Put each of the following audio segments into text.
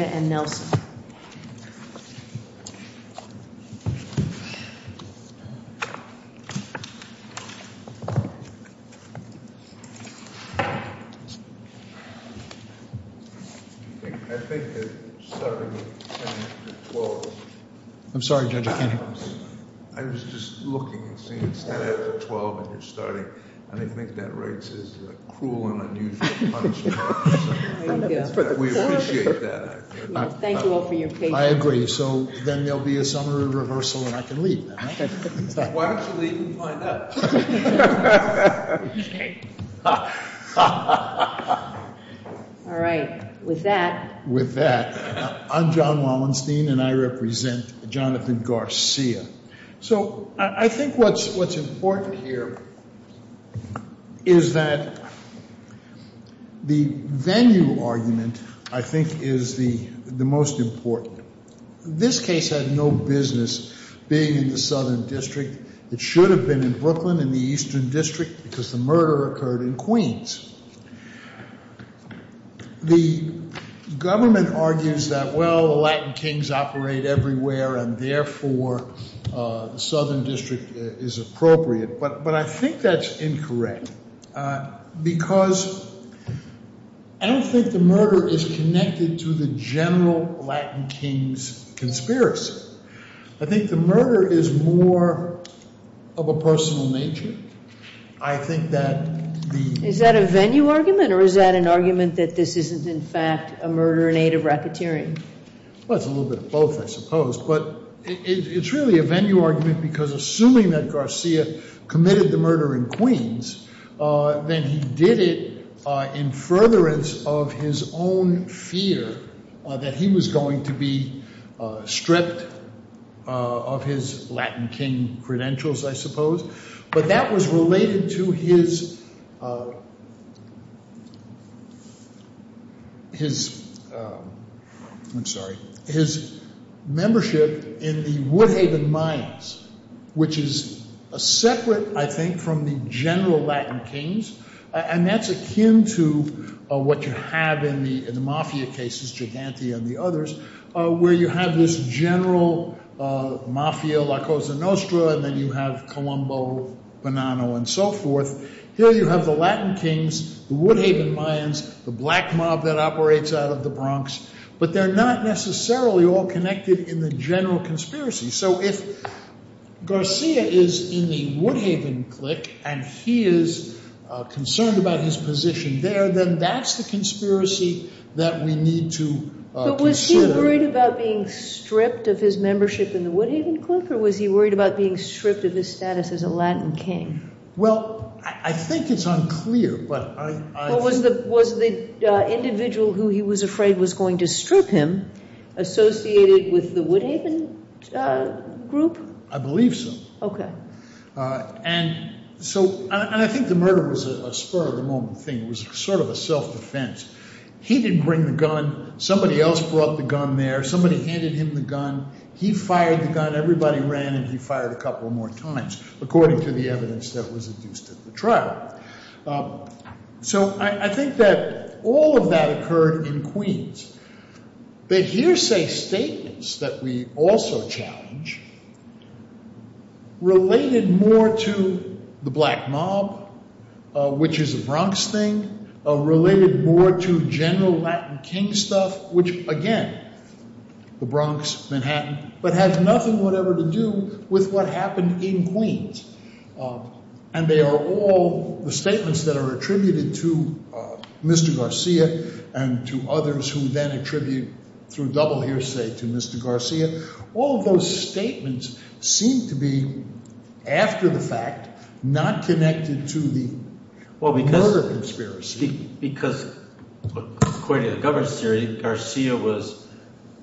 and Nelson. I think that starting with 10 after 12, I was just looking and seeing 10 after 12 and you're starting, and I think that writes a cruel and unusual punishment. We appreciate that. Thank you all for your patience. I agree. So then there'll be a summary reversal and I can leave. Why don't you leave and find out? All right. With that. With that. I'm John Wallenstein and I represent Jonathan Garcia. So I think what's important here is that the venue argument, I think, is the most important. This case had no business being in the Southern District. It should have been in Brooklyn in the Eastern District because the murder occurred in Queens. The government argues that, well, the Latin Kings operate everywhere and therefore the Southern District is appropriate. But I think that's incorrect because I don't think the murder is connected to the general Latin Kings conspiracy. I think the murder is more of a personal nature. I think that the- Is that a venue argument or is that an argument that this isn't in fact a murder in aid of racketeering? Well, it's a little bit of both, I suppose. But it's really a venue argument because assuming that Garcia committed the murder in Queens, then he did it in furtherance of his own fear that he was going to be stripped of his Latin King credentials, I suppose. But that was related to his membership in the Woodhaven Mayans, which is separate, I think, from the general Latin Kings. And that's akin to what you have in the mafia cases, Gigante and the others, where you have this general mafia, La Cosa Nostra, and then you have Colombo, Bonanno, and so forth. Here you have the Latin Kings, the Woodhaven Mayans, the black mob that operates out of the Bronx, but they're not necessarily all connected in the general conspiracy. So if Garcia is in the Woodhaven clique and he is concerned about his position there, then that's the conspiracy that we need to consider. But was he worried about being stripped of his membership in the Woodhaven clique, or was he worried about being stripped of his status as a Latin King? Well, I think it's unclear, but I— Was the individual who he was afraid was going to strip him associated with the Woodhaven group? I believe so. Okay. And so—and I think the murder was a spur-of-the-moment thing. It was sort of a self-defense. He didn't bring the gun. Somebody else brought the gun there. Somebody handed him the gun. He fired the gun. Everybody ran, and he fired a couple more times, according to the evidence that was induced at the trial. So I think that all of that occurred in Queens. The hearsay statements that we also challenge related more to the black mob, which is a Bronx thing, related more to general Latin King stuff, which, again, the Bronx, Manhattan, but has nothing whatever to do with what happened in Queens. And they are all the statements that are attributed to Mr. Garcia and to others who then attribute, through double hearsay, to Mr. Garcia. All of those statements seem to be, after the fact, not connected to the murder conspiracy. Because, according to the governance theory, Garcia was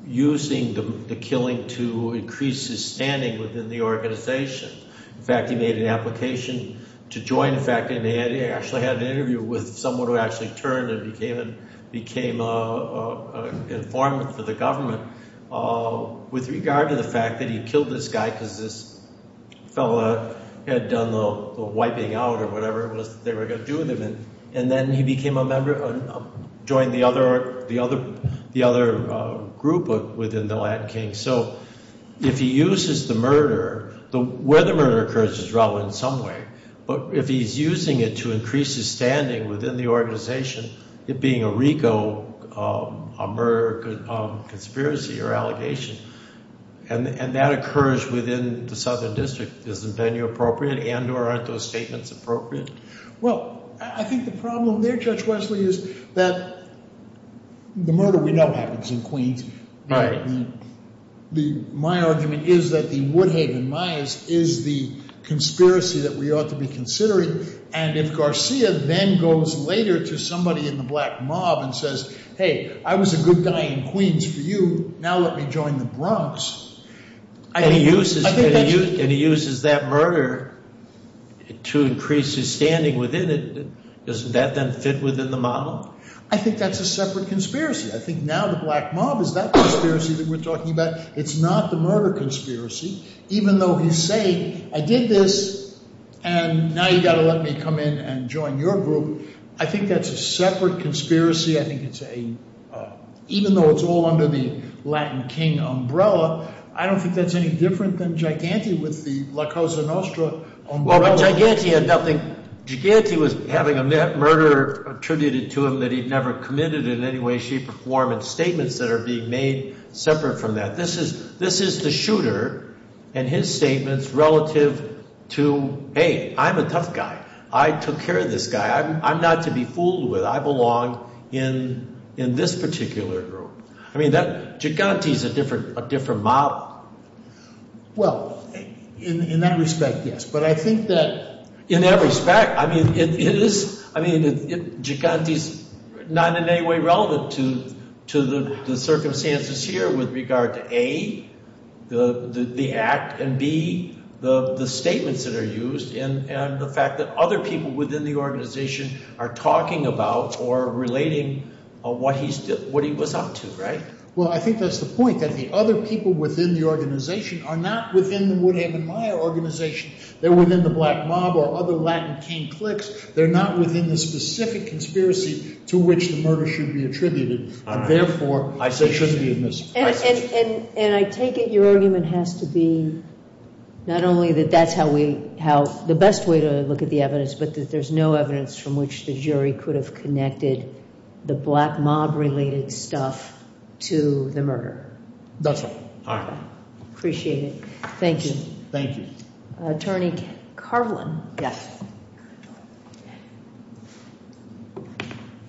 using the killing to increase his standing within the organization. In fact, he made an application to join. In fact, he actually had an interview with someone who actually turned and became an informant for the government. With regard to the fact that he killed this guy because this fellow had done the wiping out or whatever it was that they were going to do with him. And then he became a member, joined the other group within the Latin King. So if he uses the murder, where the murder occurs is relevant in some way. But if he's using it to increase his standing within the organization, it being a RICO, a murder conspiracy or allegation, and that occurs within the Southern District, isn't that inappropriate and or aren't those statements appropriate? Well, I think the problem there, Judge Wesley, is that the murder we know happens in Queens. My argument is that the Woodhaven Myers is the conspiracy that we ought to be considering. And if Garcia then goes later to somebody in the black mob and says, hey, I was a good guy in Queens for you. Now let me join the Bronx. And he uses that murder to increase his standing within it. Doesn't that then fit within the model? I think that's a separate conspiracy. I think now the black mob is that conspiracy that we're talking about. It's not the murder conspiracy, even though he's saying I did this and now you've got to let me come in and join your group. I think that's a separate conspiracy. I think it's a even though it's all under the Latin King umbrella. I don't think that's any different than Giganti with the La Cosa Nostra umbrella. Well, Giganti had nothing. Giganti was having a murder attributed to him that he'd never committed in any way, shape, or form, and statements that are being made separate from that. This is the shooter and his statements relative to, hey, I'm a tough guy. I took care of this guy. I'm not to be fooled with. I belong in this particular group. I mean, Giganti's a different model. Well, in that respect, yes. But I think that – In that respect, I mean, it is – I mean, Giganti's not in any way relevant to the circumstances here with regard to, A, the act, and, B, the statements that are used and the fact that other people within the organization are talking about or relating what he was up to, right? Well, I think that's the point, that the other people within the organization are not within the Woodham and Meyer organization. They're within the Black Mob or other Latin King cliques. They're not within the specific conspiracy to which the murder should be attributed. Therefore, I say it shouldn't be a mystery. And I take it your argument has to be not only that that's how we – the best way to look at the evidence, but that there's no evidence from which the jury could have connected the Black Mob-related stuff to the murder. That's right. All right. Appreciate it. Thank you. Thank you. Attorney Carlin. Yes.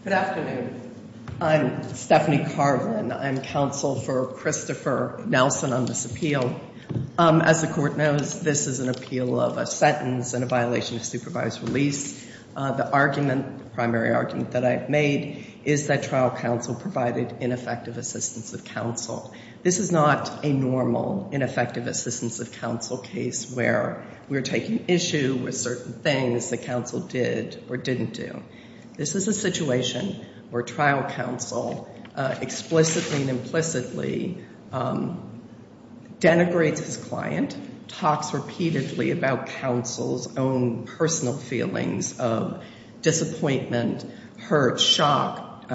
Good afternoon. I'm Stephanie Carlin. I'm counsel for Christopher Nelson on this appeal. As the court knows, this is an appeal of a sentence and a violation of supervised release. The argument, the primary argument that I've made is that trial counsel provided ineffective assistance of counsel. This is not a normal ineffective assistance of counsel case where we're taking issue with certain things that counsel did or didn't do. This is a situation where trial counsel explicitly and implicitly denigrates his client, talks repeatedly about counsel's own personal feelings of disappointment, hurt, shock,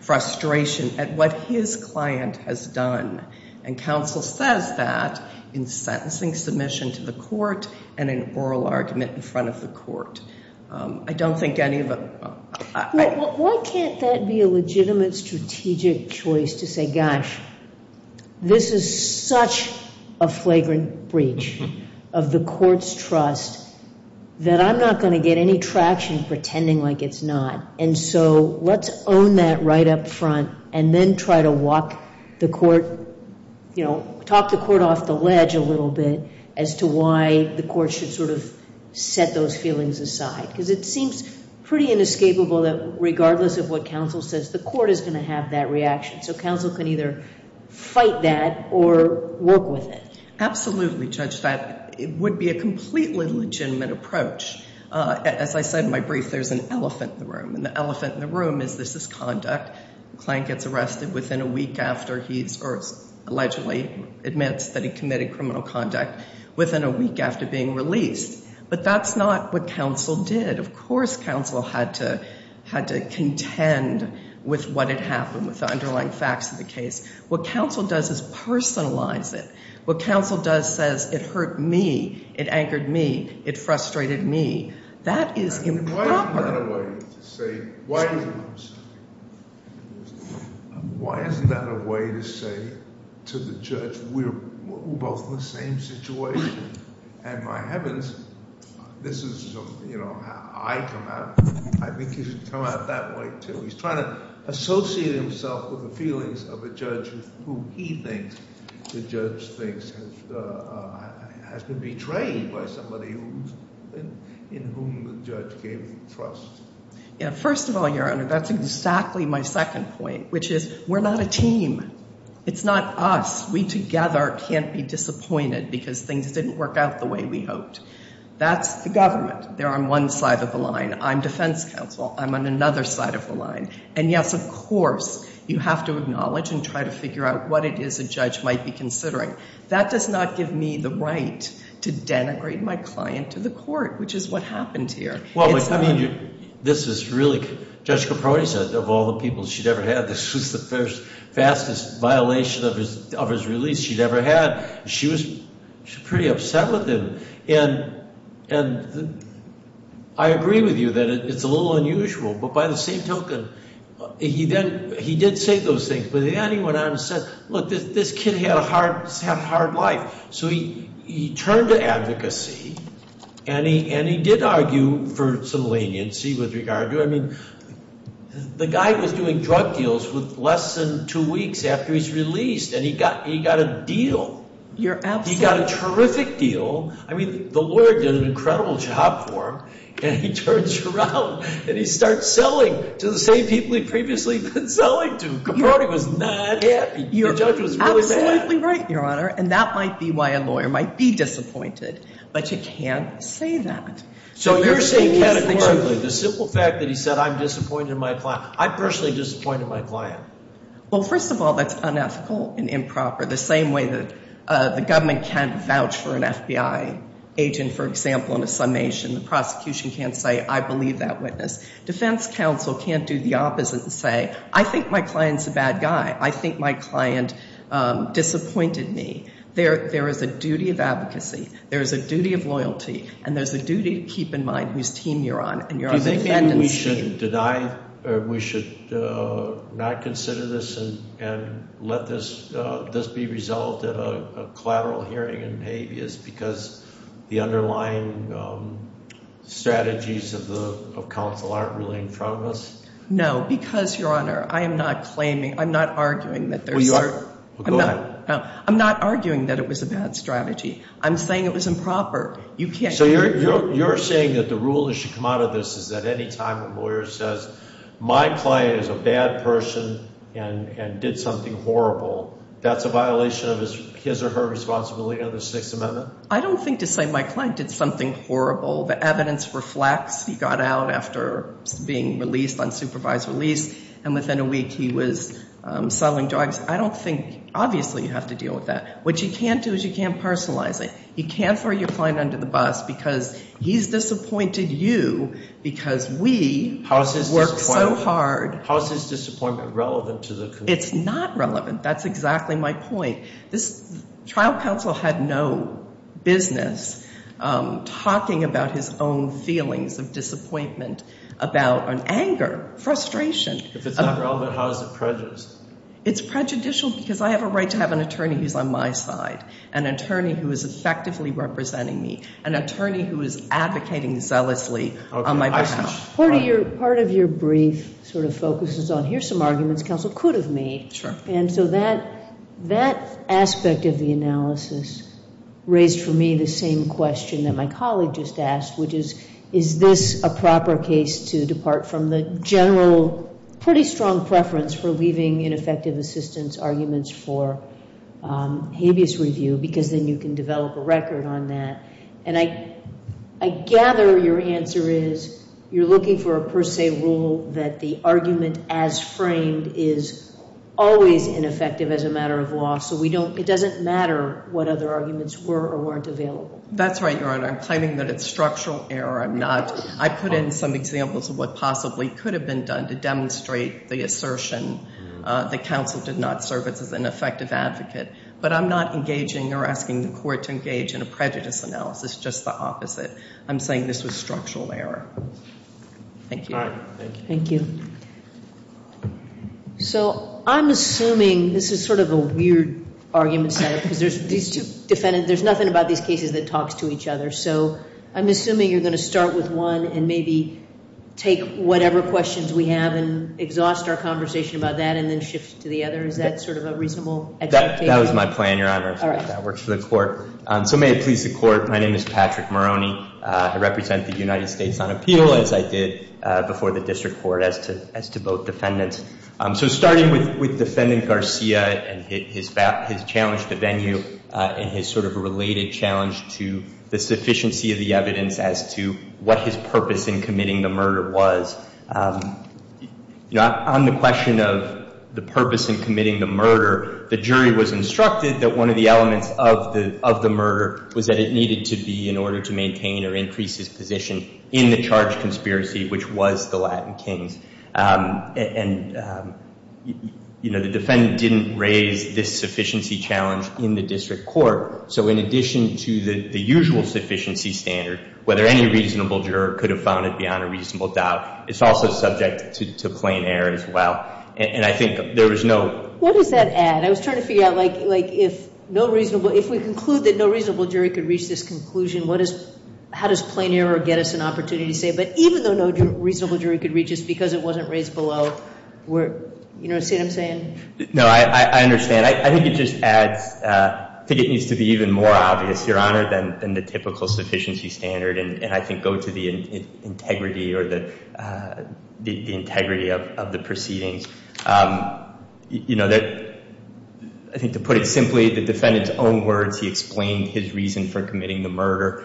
frustration at what his client has done. And counsel says that in sentencing submission to the court and an oral argument in front of the court. I don't think any of it. Why can't that be a legitimate strategic choice to say, gosh, this is such a flagrant breach of the court's trust that I'm not going to get any traction pretending like it's not. And so let's own that right up front and then try to walk the court, you know, talk the court off the ledge a little bit as to why the court should sort of set those feelings aside. Because it seems pretty inescapable that regardless of what counsel says, the court is going to have that reaction. So counsel can either fight that or work with it. Absolutely, Judge. That would be a completely legitimate approach. As I said in my brief, there's an elephant in the room. And the elephant in the room is this is conduct. The client gets arrested within a week after he's allegedly admits that he committed criminal conduct within a week after being released. But that's not what counsel did. Of course counsel had to contend with what had happened, with the underlying facts of the case. What counsel does is personalize it. What counsel does says it hurt me, it anchored me, it frustrated me. That is improper. Why is that a way to say to the judge we're both in the same situation? And my heavens, this is, you know, how I come out. I think he should come out that way too. He's trying to associate himself with the feelings of a judge who he thinks the judge thinks has been betrayed by somebody in whom the judge gave trust. First of all, Your Honor, that's exactly my second point, which is we're not a team. It's not us. We together can't be disappointed because things didn't work out the way we hoped. That's the government. They're on one side of the line. I'm defense counsel. I'm on another side of the line. And, yes, of course you have to acknowledge and try to figure out what it is a judge might be considering. That does not give me the right to denigrate my client to the court, which is what happened here. Well, I mean, this is really, Judge Caproni said of all the people she'd ever had, this was the first, fastest violation of his release she'd ever had. She was pretty upset with him. And I agree with you that it's a little unusual. But by the same token, he did say those things. But then he went on and said, look, this kid had a hard life. So he turned to advocacy, and he did argue for some leniency with regard to it. I mean, the guy was doing drug deals with less than two weeks after he's released, and he got a deal. He got a terrific deal. I mean, the lawyer did an incredible job for him. And he turns around, and he starts selling to the same people he'd previously been selling to. Caproni was not happy. The judge was really mad. You're absolutely right, Your Honor. And that might be why a lawyer might be disappointed. But you can't say that. So you're saying categorically, the simple fact that he said, I'm disappointed in my client. I'm personally disappointed in my client. Well, first of all, that's unethical and improper. The same way that the government can't vouch for an FBI agent, for example, in a summation. The prosecution can't say, I believe that witness. Defense counsel can't do the opposite and say, I think my client's a bad guy. I think my client disappointed me. There is a duty of advocacy. There is a duty of loyalty. And there's a duty to keep in mind whose team you're on. Do you think we should deny or we should not consider this and let this be resolved at a collateral hearing in habeas because the underlying strategies of counsel aren't really in front of us? No, because, Your Honor, I am not claiming, I'm not arguing that there's. Well, go ahead. I'm not arguing that it was a bad strategy. I'm saying it was improper. So you're saying that the rule that should come out of this is that any time a lawyer says, my client is a bad person and did something horrible, that's a violation of his or her responsibility under the Sixth Amendment? I don't think to say my client did something horrible. The evidence reflects he got out after being released on supervised release and within a week he was selling drugs. I don't think, obviously, you have to deal with that. What you can't do is you can't personalize it. You can't throw your client under the bus because he's disappointed you because we worked so hard. How is his disappointment relevant to the conclusion? It's not relevant. That's exactly my point. This trial counsel had no business talking about his own feelings of disappointment, about anger, frustration. If it's not relevant, how is it prejudiced? It's prejudicial because I have a right to have an attorney who's on my side, an attorney who is effectively representing me, an attorney who is advocating zealously on my behalf. Part of your brief sort of focuses on here's some arguments counsel could have made. And so that aspect of the analysis raised for me the same question that my colleague just asked, which is, is this a proper case to depart from the general pretty strong preference for leaving ineffective assistance arguments for habeas review because then you can develop a record on that. And I gather your answer is you're looking for a per se rule that the argument as framed is always ineffective as a matter of law. So it doesn't matter what other arguments were or weren't available. That's right, Your Honor. I'm claiming that it's structural error. I'm not. I put in some examples of what possibly could have been done to demonstrate the assertion that counsel did not serve as an effective advocate. But I'm not engaging or asking the court to engage in a prejudice analysis, just the opposite. I'm saying this was structural error. Thank you. Thank you. So I'm assuming this is sort of a weird argument set up because these two defendants, there's nothing about these cases that talks to each other. So I'm assuming you're going to start with one and maybe take whatever questions we have and exhaust our conversation about that and then shift to the other. Is that sort of a reasonable expectation? That was my plan, Your Honor, if that works for the court. So may it please the court, my name is Patrick Moroney. I represent the United States on appeal, as I did before the district court as to both defendants. So starting with Defendant Garcia and his challenge to venue and his sort of related challenge to the sufficiency of the evidence as to what his purpose in committing the murder was. You know, on the question of the purpose in committing the murder, the jury was instructed that one of the elements of the murder was that it needed to be in order to maintain or increase his position in the charge conspiracy, which was the Latin Kings. And, you know, the defendant didn't raise this sufficiency challenge in the district court. So in addition to the usual sufficiency standard, whether any reasonable juror could have found it beyond a reasonable doubt, it's also subject to plain error as well. And I think there was no— What does that add? I was trying to figure out, like, if no reasonable—if we conclude that no reasonable jury could reach this conclusion, what is—how does plain error get us an opportunity to say, but even though no reasonable jury could reach this because it wasn't raised below, we're—you know what I'm saying? No, I understand. I think it just adds—I think it needs to be even more obvious, Your Honor, than the typical sufficiency standard and I think go to the integrity or the integrity of the proceedings. You know, I think to put it simply, the defendant's own words, he explained his reason for committing the murder,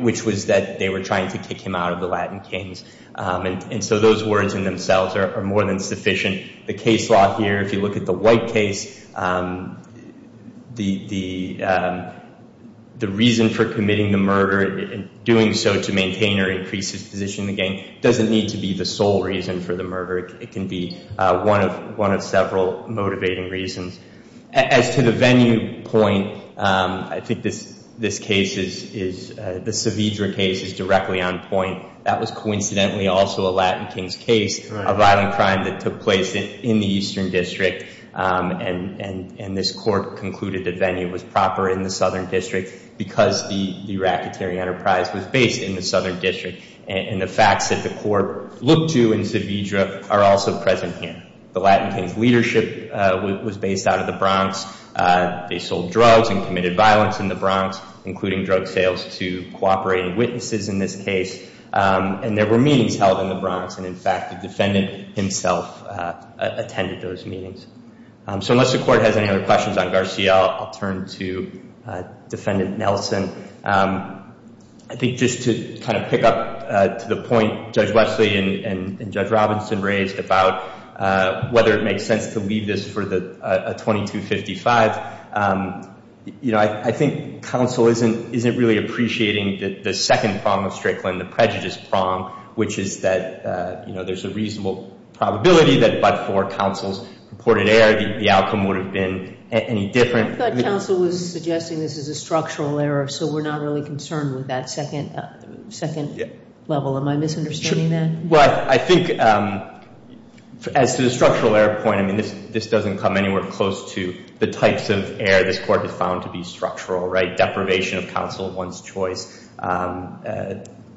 which was that they were trying to kick him out of the Latin Kings. And so those words in themselves are more than sufficient. The case law here, if you look at the White case, the reason for committing the murder and doing so to maintain or increase his position in the game doesn't need to be the sole reason for the murder. It can be one of several motivating reasons. As to the venue point, I think this case is—the Saavedra case is directly on point. That was coincidentally also a Latin Kings case, a violent crime that took place in the Eastern District. And this court concluded the venue was proper in the Southern District because the racketeering enterprise was based in the Southern District. And the facts that the court looked to in Saavedra are also present here. The Latin Kings' leadership was based out of the Bronx. They sold drugs and committed violence in the Bronx, including drug sales, to cooperating witnesses in this case. And there were meetings held in the Bronx. And, in fact, the defendant himself attended those meetings. So unless the court has any other questions on Garcia, I'll turn to Defendant Nelson. I think just to kind of pick up to the point Judge Wesley and Judge Robinson raised about whether it makes sense to leave this for a 2255, you know, I think counsel isn't really appreciating the second prong of Strickland, the prejudice prong, which is that, you know, there's a reasonable probability that but for counsel's purported error, the outcome would have been any different. I thought counsel was suggesting this is a structural error, so we're not really concerned with that second level. Am I misunderstanding that? Well, I think as to the structural error point, I mean, this doesn't come anywhere close to the types of error this court has found to be structural, right? Deprivation of counsel at one's choice,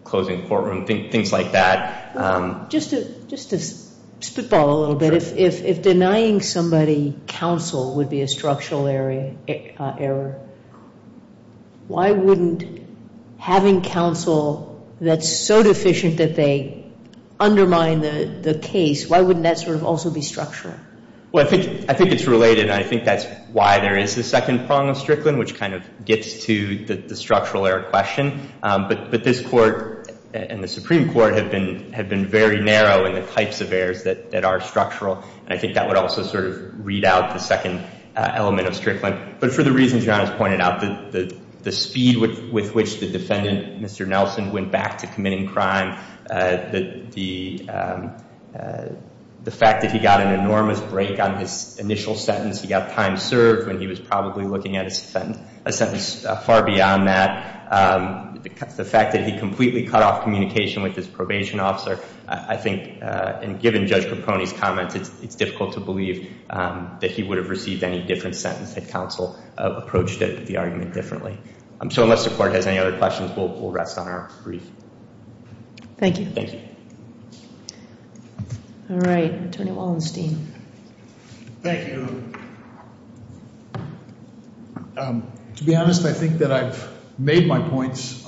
closing courtroom, things like that. Just to spitball a little bit, if denying somebody counsel would be a structural error, why wouldn't having counsel that's so deficient that they undermine the case, why wouldn't that sort of also be structural? Well, I think it's related, and I think that's why there is the second prong of Strickland, which kind of gets to the structural error question. But this court and the Supreme Court have been very narrow in the types of errors that are structural, and I think that would also sort of read out the second element of Strickland. But for the reasons John has pointed out, the speed with which the defendant, Mr. Nelson, went back to committing crime, the fact that he got an enormous break on his initial sentence, he got time served when he was probably looking at a sentence far beyond that, the fact that he completely cut off communication with his probation officer, I think, and given Judge Capone's comments, it's difficult to believe that he would have received any different sentence had counsel approached the argument differently. So unless the court has any other questions, we'll rest on our brief. Thank you. Thank you. All right. Attorney Wallenstein. Thank you. To be honest, I think that I've made my points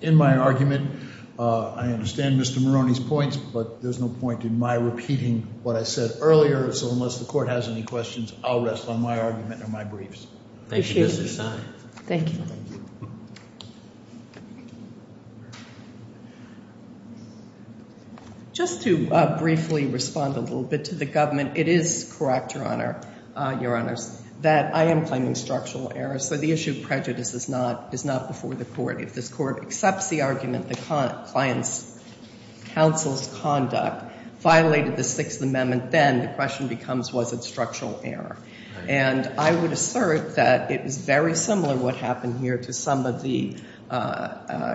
in my argument. I understand Mr. Maroney's points, but there's no point in my repeating what I said earlier. So unless the court has any questions, I'll rest on my argument and my briefs. Thank you. Thank you. Just to briefly respond a little bit to the government, it is correct, Your Honor, Your Honors, that I am claiming structural error. So the issue of prejudice is not before the court. If this court accepts the argument that the client's counsel's conduct violated the Sixth Amendment, then the question becomes was it structural error. And I would assert that it is very similar what happened here to some of the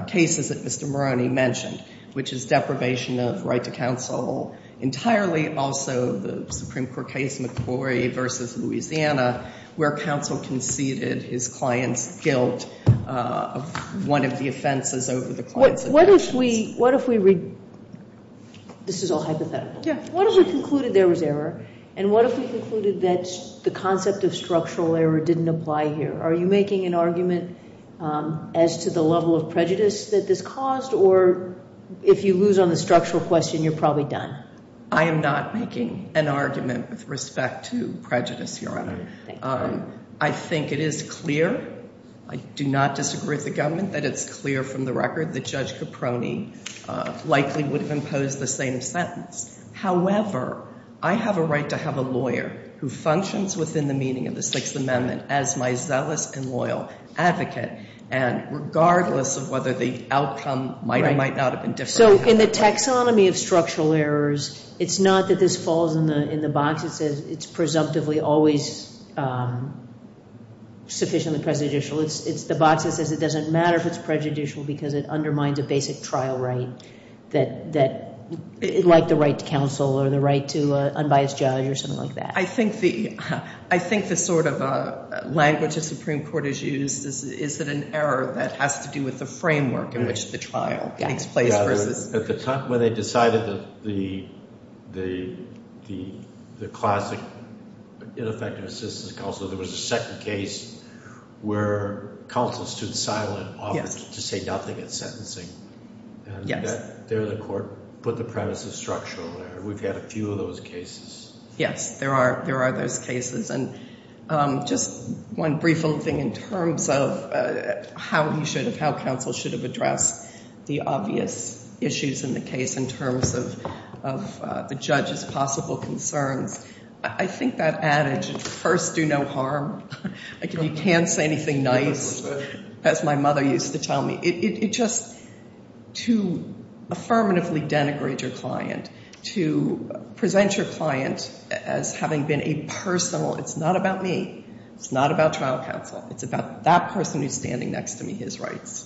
cases that Mr. Maroney mentioned, which is deprivation of right to counsel, entirely also the Supreme Court case McCrory v. Louisiana, where counsel conceded his client's guilt of one of the offenses over the client's objections. What if we, what if we, this is all hypothetical. Yeah. What if we concluded there was error? And what if we concluded that the concept of structural error didn't apply here? Are you making an argument as to the level of prejudice that this caused, or if you lose on the structural question, you're probably done? I am not making an argument with respect to prejudice, Your Honor. I think it is clear, I do not disagree with the government, that it's clear from the record that Judge Caproni likely would have imposed the same sentence. However, I have a right to have a lawyer who functions within the meaning of the Sixth Amendment as my zealous and loyal advocate, and regardless of whether the outcome might or might not have been different. So in the taxonomy of structural errors, it's not that this falls in the box. It says it's presumptively always sufficiently prejudicial. It's the box that says it doesn't matter if it's prejudicial because it undermines a basic trial right, like the right to counsel or the right to unbiased judge or something like that. I think the sort of language the Supreme Court has used is that an error that has to do with the framework in which the trial takes place. At the time when they decided that the classic ineffective assistance counsel, there was a second case where counsel stood silent, offered to say nothing at sentencing. There the court put the premise of structural error. We've had a few of those cases. Yes, there are those cases. And just one brief little thing in terms of how he should have, how counsel should have addressed the obvious issues in the case in terms of the judge's possible concerns. I think that adage, first do no harm, like if you can't say anything nice, as my mother used to tell me, to affirmatively denigrate your client, to present your client as having been a personal, it's not about me. It's not about trial counsel. It's about that person who's standing next to me, his rights.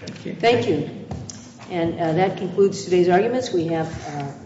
Thank you. And that concludes today's arguments. We have various questions.